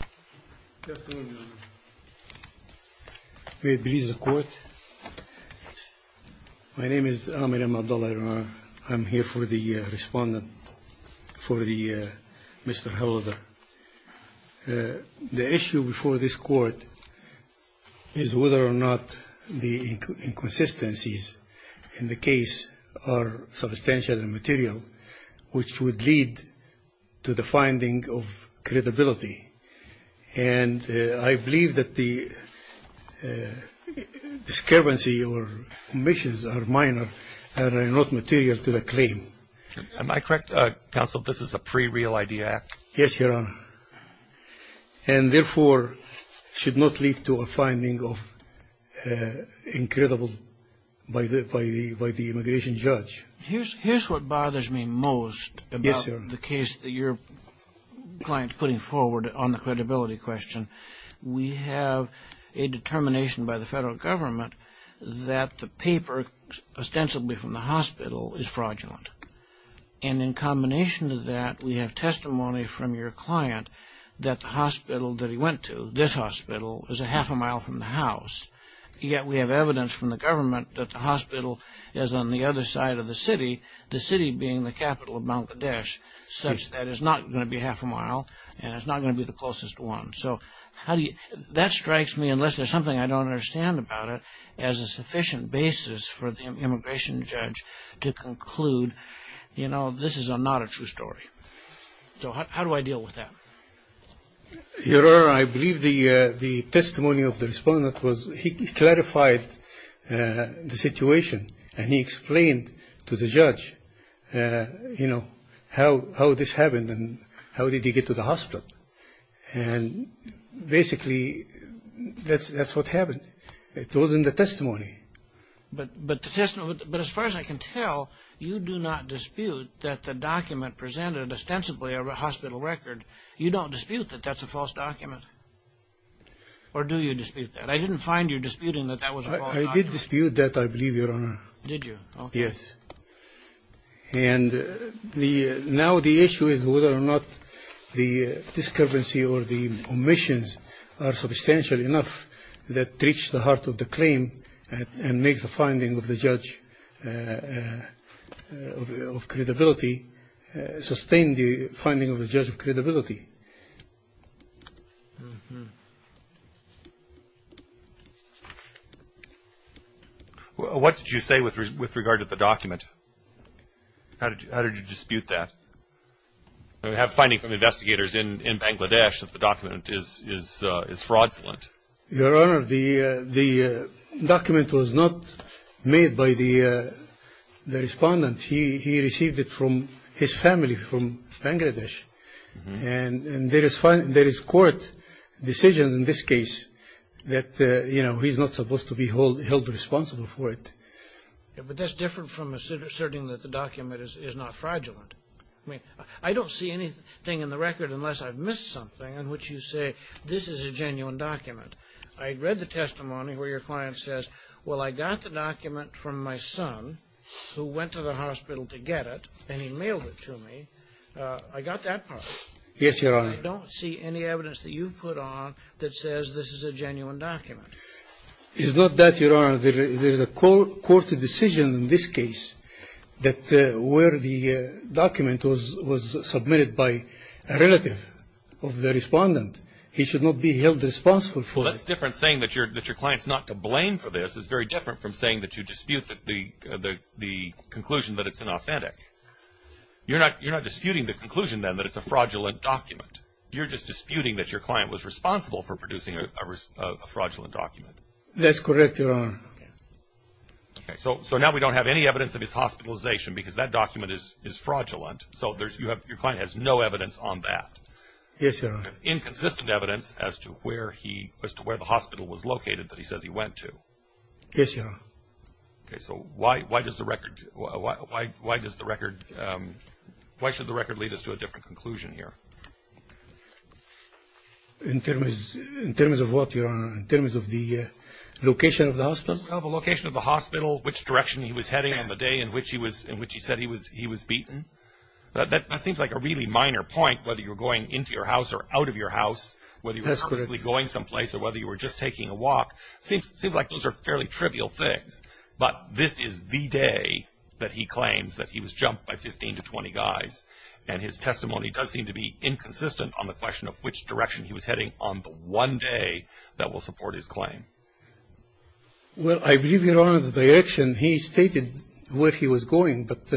May it please the Court, my name is Amir M. Abdullah. I'm here for the respondent for Mr. Howlader. The issue before this Court is whether or not the inconsistencies in the and I believe that the discrepancy or omissions are minor and are not material to the claim. Am I correct, Counsel, that this is a pre-real ID Act? Yes, Your Honor, and therefore should not lead to a finding of incredible by the immigration judge. Here's what bothers me most about the case that your client's putting forward on the credibility question. We have a determination by the federal government that the paper ostensibly from the hospital is fraudulent. And in combination with that, we have testimony from your client that the hospital that he went to, this hospital, is a half a mile from the house, yet we have evidence from the government that the hospital is on the other side of the city, the city being the capital of Mount Kadesh, such that it's not going to be half a mile and it's not going to be the closest one. So how do you, that strikes me, unless there's something I don't understand about it, as a sufficient basis for the immigration judge to conclude, you know, this is not a true story. So how do I deal with that? Your Honor, I believe the testimony of the respondent was, he clarified the situation and he explained to the judge, you know, how this happened and how did he get to the hospital. And basically, that's what happened. It wasn't the testimony. But the testimony, but as far as I can tell, you do not dispute that the document presented ostensibly a hospital record. You don't dispute that that's a false document? Or do you dispute that? I didn't find you disputing that that was a false document. I did dispute that, I believe, Your Honor. Did you? Yes. And now the issue is whether or not the discrepancy or the omissions are substantial enough that reach the heart of the claim and make the finding of the judge of credibility, sustain the finding of the What did you say with regard to the document? How did you dispute that? We have findings from investigators in Bangladesh that the document is fraudulent. Your Honor, the document was not made by the respondent. He received it from his family from Bangladesh. And there is court decision in this case that, you know, he's not supposed to be held responsible for it. But that's different from asserting that the document is not fraudulent. I mean, I don't see anything in the record unless I've missed something in which you say this is a genuine document. I read the testimony where your client says, well, I got the document from my son who went to the hospital to get it and he mailed it to me. I got that part. Yes, Your Honor. I don't see any evidence that you've put on that says this is a genuine document. It's not that, Your Honor. There is a court decision in this case that where the document was submitted by a relative of the respondent. He should not be held responsible for it. Well, that's different saying that your client's not to blame for this. It's very different from saying that you dispute the conclusion that it's unauthentic. You're not disputing the conclusion then that it's a fraudulent document. You're just disputing that your client was responsible for producing a fraudulent document. That's correct, Your Honor. So now we don't have any evidence of his hospitalization because that document is fraudulent. So your client has no evidence on that. Yes, Your Honor. Inconsistent evidence as to where the hospital was located that he says he went to. Yes, Your Honor. Why should the record lead us to a different conclusion here? In terms of the location of the hospital? Well, the location of the hospital, which direction he was heading on the day in which he said he was beaten. That seems like a really minor point whether you were going into your house or out of your house, whether you were purposely going someplace or whether you were just taking a walk. It seems like those are fairly trivial things. But this is the day that he claims that he was jumped by 15 to 20 guys. And his testimony does seem to be inconsistent on the question of which direction he was heading on the one day that will support his claim. Well, I believe, Your Honor, the direction he stated where he was going, but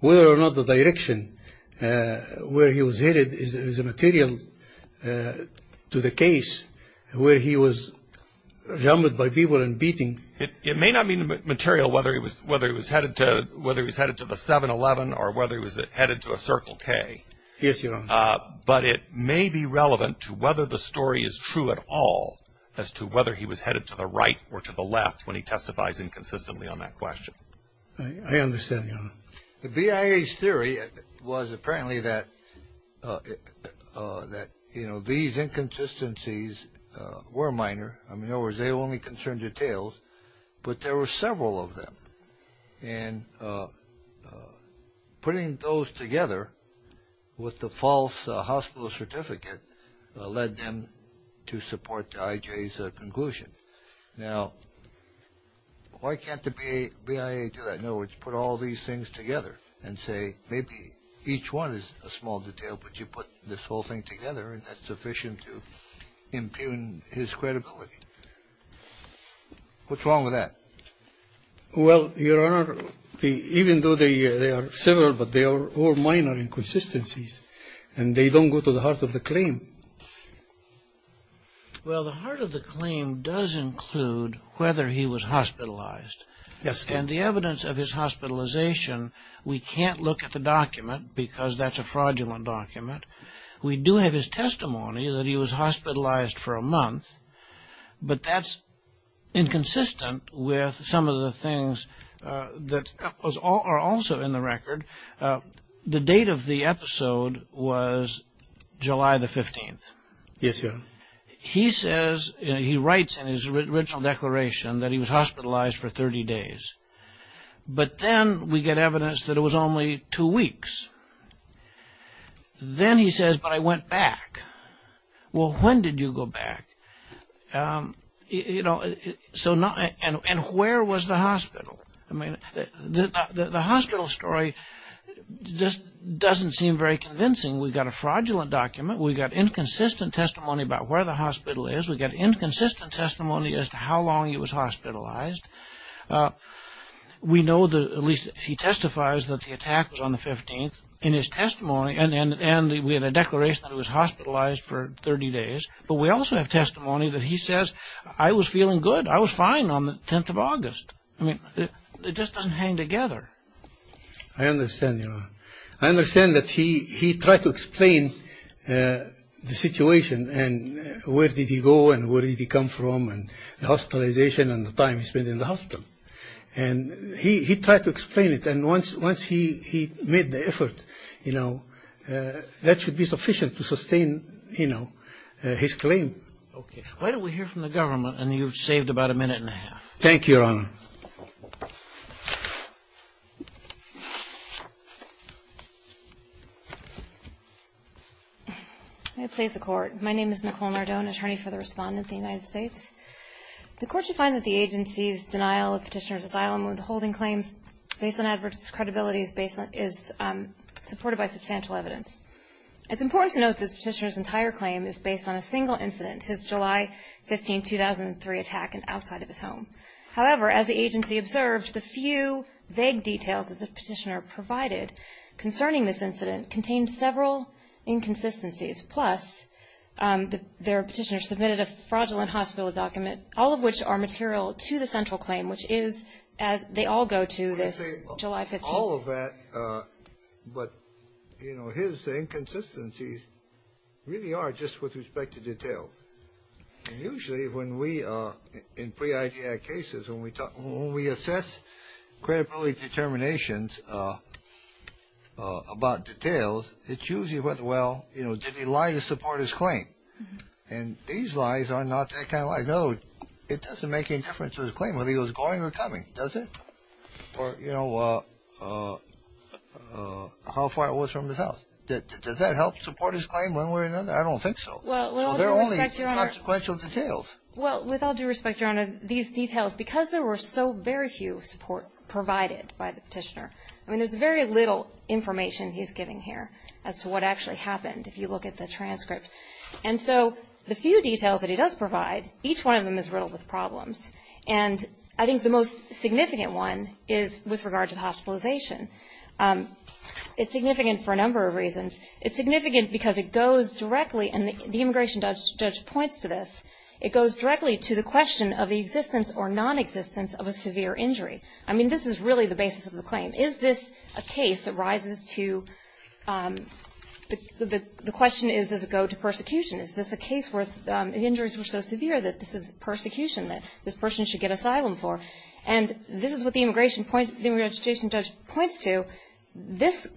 whether or not the direction where he was headed is a material to the case where he was jumped by people and beaten. It may not be material whether he was headed to the 7-Eleven or whether he was headed to a Circle K. Yes, Your Honor. But it may be relevant to whether the story is true at all as to whether he was headed to the right or to the left when he testifies inconsistently on that question. I understand, Your Honor. The BIA's theory was apparently that, you know, these inconsistencies were minor. In other words, they only concerned details, but there were several of them. And putting those together with the false hospital certificate led them to support the IJ's conclusion. Now, why can't the BIA do that? In other words, put all these things together and say, maybe each one is a small detail, but you put this whole thing together and that's sufficient to impugn his credibility. What's wrong with that? Well, Your Honor, even though they are several, but they are all minor inconsistencies, and they don't go to the heart of the claim. Well, the heart of the claim does include whether he was hospitalized. Yes. And the evidence of his hospitalization, we can't look at the document because that's a fraudulent document. We do have his testimony that he was hospitalized for a month, but that's inconsistent with some of the things that are also in the record. The date of the episode was July the 15th. Yes, Your Honor. He says, he writes in his original declaration that he was hospitalized for 30 days, but then we get evidence that it was only two weeks. Then he says, but I went back. Well, when did you go back? And where was the hospital? The hospital story just doesn't seem very convincing. We've got a fraudulent document. We've got inconsistent testimony about where the hospital is. We've got inconsistent testimony as to how long he was hospitalized. We know that, at least, he testifies that the attack was on the 15th in his testimony, and we have a declaration that he was hospitalized for 30 days, but we also have testimony that he says, I was feeling good. I was fine on the 10th of August. I mean, it just doesn't hang together. I understand, Your Honor. I understand that he tried to explain the situation, and where did he go, and where did he come from, and the hospitalization, and the time he spent in the hospital. And he tried to explain it, and once he made the effort, you know, that should be sufficient to sustain, you know, his claim. Okay. Why don't we hear from the government, and you've saved about a minute and a half. Thank you. I please the Court. My name is Nicole Nardone, attorney for the Respondent of the United States. The Court should find that the agency's denial of Petitioner's asylum withholding claims, based on adverse credibility, is supported by substantial evidence. It's important to note that Petitioner's entire claim is based on a single incident, his July 15, 2003, attack outside of his home. However, as concerning this incident, contained several inconsistencies. Plus, their Petitioner submitted a fraudulent hospital document, all of which are material to the central claim, which is, as they all go to this July 15. All of that, but, you know, his inconsistencies really are just with respect to detail. And usually, when we, in pre-ID Act cases, when we talk, when we assess credibility determinations about details, it's usually whether, well, you know, did he lie to support his claim? And these lies are not that kind of lies. No, it doesn't make any difference to his claim, whether he was going or coming, does it? Or, you know, how far it was from his house. Does that help support his claim one way or another? I don't think so. Well, with all due respect, Your Honor, these details, because there were so very few support provided by the Petitioner. I mean, there's very little information he's giving here as to what actually happened, if you look at the transcript. And so the few details that he does provide, each one of them is riddled with problems. And I think the most significant one is with regard to the hospitalization. It's significant for a number of reasons. It's significant because it goes directly, and the immigration judge points to this, it goes directly to the question of the existence or nonexistence of a severe injury. I mean, this is really the basis of the claim. Is this a case that rises to, the question is, does it go to persecution? Is this a case where the injuries were so severe that this is persecution that this person should get asylum for? And this is what the immigration judge points to. This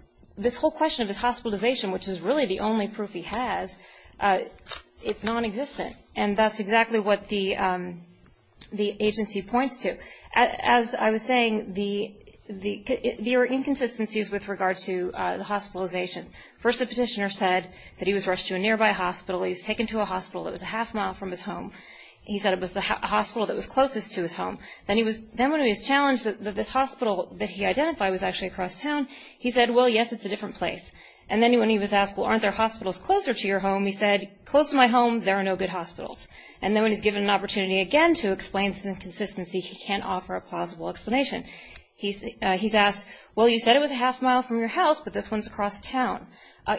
whole question of his hospitalization, which is really the only proof he has, it's nonexistent. And that's exactly what the agency points to. As I was saying, there are inconsistencies with regard to the hospitalization. First, the Petitioner said that he was rushed to a nearby hospital. He was taken to a hospital that was a half mile from his home. He said it was the hospital that was closest to his home. Then when he was challenged that this hospital that he identified was actually across town, he said, well, yes, it's a different place. And then when he was asked, well, aren't there hospitals closer to your home? He said, close to my home, there are no good hospitals. And then when he's given an opportunity again to explain this inconsistency, he can't offer a plausible explanation. He's asked, well, you said it was a half mile from your house, but this one's across town.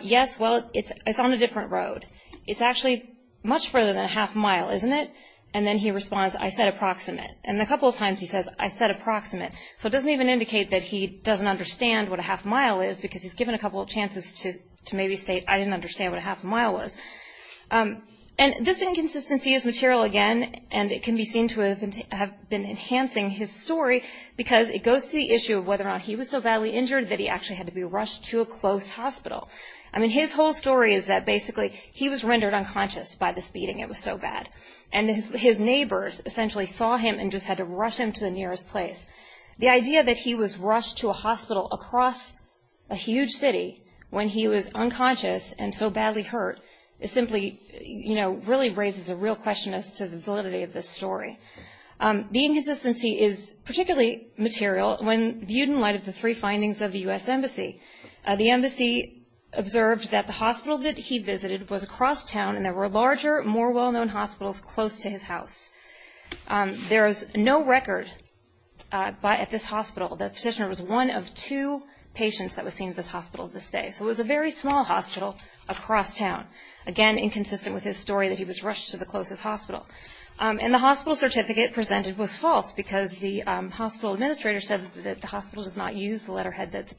Yes, well, it's on a approximate. And then he responds, I said approximate. And a couple of times he says, I said approximate. So it doesn't even indicate that he doesn't understand what a half mile is because he's given a couple of chances to maybe state, I didn't understand what a half mile was. And this inconsistency is material again, and it can be seen to have been enhancing his story because it goes to the issue of whether or not he was so badly injured that he actually had to be rushed to a close hospital. I mean, his whole story is that basically he was rendered unconscious by this beating. It was so bad. And his neighbors essentially saw him and just had to rush him to the nearest place. The idea that he was rushed to a hospital across a huge city when he was unconscious and so badly hurt is simply, you know, really raises a real question as to the validity of this story. The inconsistency is particularly material when viewed in light of the three findings of the U.S. Embassy. The there were larger, more well-known hospitals close to his house. There is no record at this hospital that the petitioner was one of two patients that was seen at this hospital to this day. So it was a very small hospital across town. Again, inconsistent with his story that he was rushed to the closest hospital. And the hospital certificate presented was false because the hospital administrator said that the hospital does not use the letterhead that the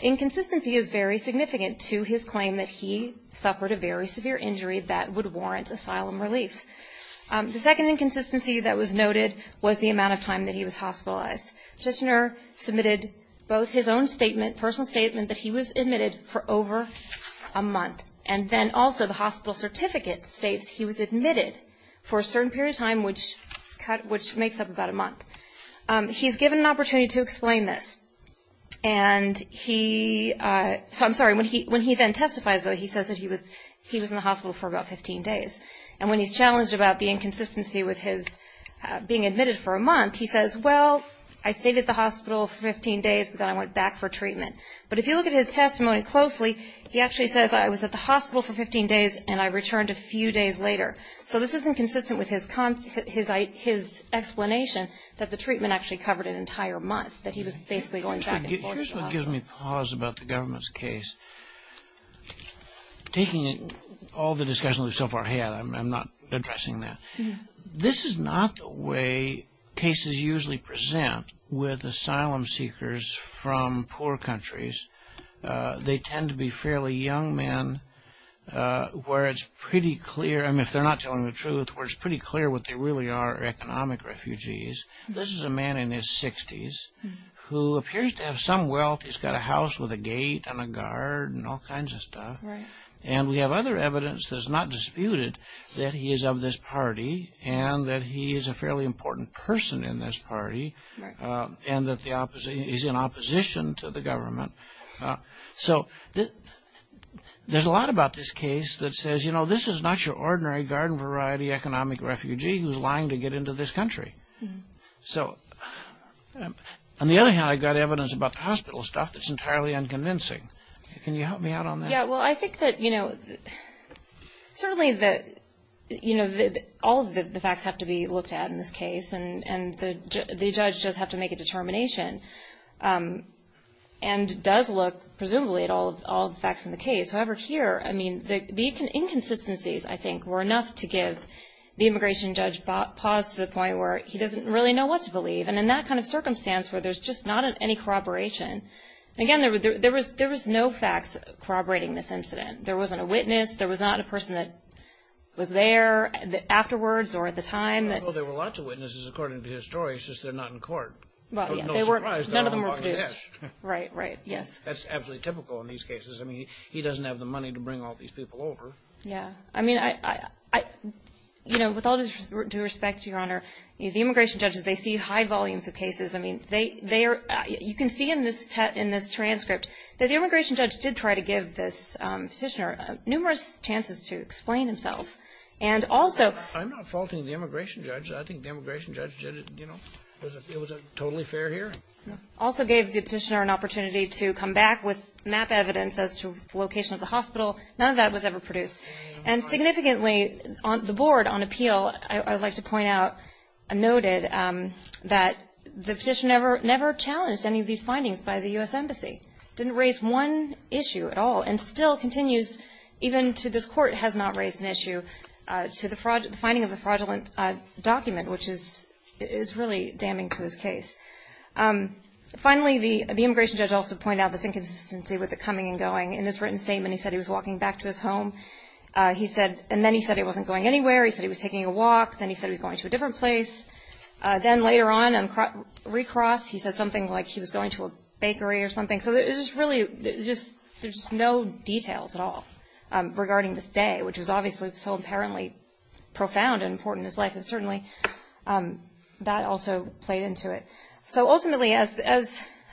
inconsistency is very significant to his claim that he suffered a very severe injury that would warrant asylum relief. The second inconsistency that was noted was the amount of time that he was hospitalized. Petitioner submitted both his own statement, personal statement, that he was admitted for over a month. And then also the hospital certificate states he was admitted for a certain period of time, which makes up about a month. He's given an opportunity to explain this. And he, so I'm sorry, when he then testifies, though, he says that he was in the hospital for about 15 days. And when he's challenged about the inconsistency with his being admitted for a month, he says, well, I stayed at the hospital for 15 days, but then I went back for treatment. But if you look at his testimony closely, he actually says, I was at the hospital for 15 days and I returned a few days later. So this isn't consistent with his explanation that the treatment actually covered an entire month, that he was basically going back and forth. Here's what gives me pause about the government's case. Taking all the discussion we've so far had, I'm not addressing that. This is not the way cases usually present with asylum seekers from poor countries. They tend to be fairly young men where it's pretty clear, and if they're not telling the truth, where it's pretty clear what they really are economic refugees. This is a man in his 60s who appears to have some wealth. He's got a house with a gate and a guard and all kinds of stuff. And we have other evidence that is not disputed that he is of this party and that he is a fairly important person in this party. And that the opposite is in opposition to the government. So, there's a lot about this case that says, you know, this is not your ordinary garden variety economic refugee who's lying to get into this country. So, on the other hand, I've got evidence about the hospital stuff that's entirely unconvincing. Can you help me out on that? Yeah, well, I think that, you know, certainly that, you know, all the facts have to be looked at in this case and the judge does have to make a determination. And the judge does look, presumably, at all the facts in the case. However, here, I mean, the inconsistencies, I think, were enough to give the immigration judge pause to the point where he doesn't really know what to believe. And in that kind of circumstance where there's just not any corroboration, again, there was no facts corroborating this incident. There wasn't a witness. There was not a person that was there afterwards or at the time. Well, there were lots of witnesses, according to his story, it's just they're not in court. Well, yeah, they weren't, none of them were produced. Right, right, yes. That's absolutely typical in these cases. I mean, he doesn't have the money to bring all these people over. Yeah, I mean, I, you know, with all due respect, Your Honor, the immigration judges, they see high volumes of cases. I mean, they are, you can see in this transcript that the immigration judge did try to give this petitioner numerous chances to explain himself. I'm not faulting the immigration judge. I think the immigration judge did it, you know, it was a totally fair hearing. Also gave the petitioner an opportunity to come back with map evidence as to the location of the hospital. None of that was ever produced. And significantly, the board on appeal, I would like to point out, noted that the petitioner never challenged any of these findings by the U.S. Embassy. Didn't raise one issue at all and still continues, even to this court, has not raised an issue to the finding of the fraudulent document, which is really damning to his case. Finally, the immigration judge also pointed out this inconsistency with the coming and going. In his written statement, he said he was walking back to his home. He said, and then he said he wasn't going anywhere. He said he was taking a walk. Then he said he was going to a different place. Then later on, on recross, he said something like he was going to a bakery or something. So it was really just there's no details at all regarding this day, which was obviously so apparently profound and important in his life. And certainly that also played into it. So ultimately, as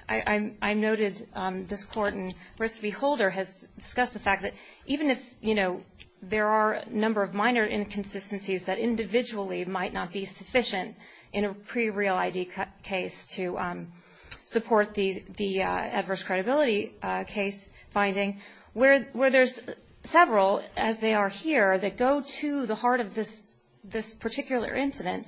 I noted, this court and risk beholder has discussed the fact that even if there are a number of minor inconsistencies that individually might not be sufficient in a pre-real ID case to support the adverse credibility case finding, where there's several, as they are here, that go to the heart of this particular incident,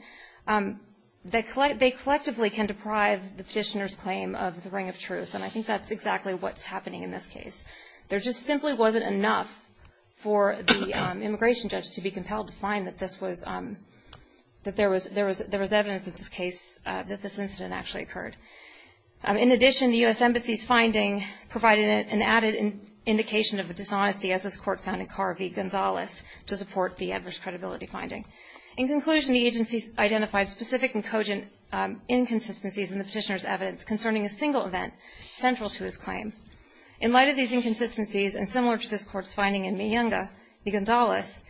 they collectively can deprive the petitioner's claim of the ring of truth. And I think that's exactly what's happening in this case. There just simply wasn't enough for the immigration judge to be compelled to find that this was, that there was evidence of this case, that this incident actually occurred. In addition, the U.S. Embassy's finding provided an added indication of a dishonesty, as this court found in Carvey-Gonzalez, to support the adverse credibility finding. In conclusion, the agency's identified specific and cogent inconsistencies in the petitioner's evidence concerning a single event central to his claim. In light of these inconsistencies, and similar to this court's finding in Miyunga-Gonzalez,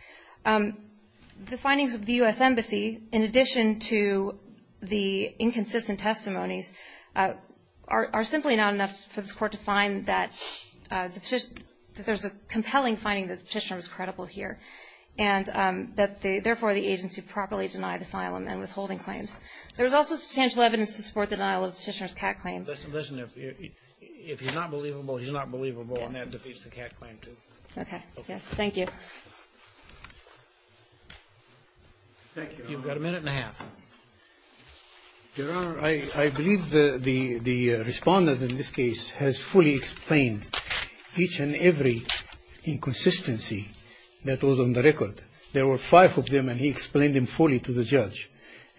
the findings of the U.S. Embassy, in addition to the inconsistent testimonies, are simply not enough for this court to find that there's a compelling finding that the petitioner is credible here, and that therefore, the agency properly denied asylum and withholding claims. There is also substantial evidence to support the denial of the petitioner's cat claim. Listen, if he's not believable, he's not believable, and that defeats the cat claim, too. Okay. Yes. Thank you. Thank you, Your Honor. You've got a minute and a half. Your Honor, I believe the Respondent in this case has fully explained each and every inconsistency that was on the record. There were five of them, and he explained them fully to the judge,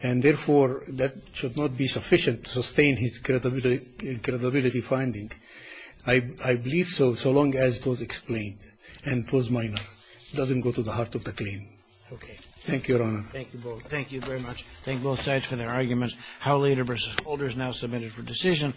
and therefore, that should not be sufficient to sustain his credibility finding. I believe so, so long as it was explained and it was minor. It doesn't go to the heart of the claim. Okay. Thank you, Your Honor. Thank you both. Thank you very much. Thank both sides for their arguments. Howe later versus Holder is now submitted for decision.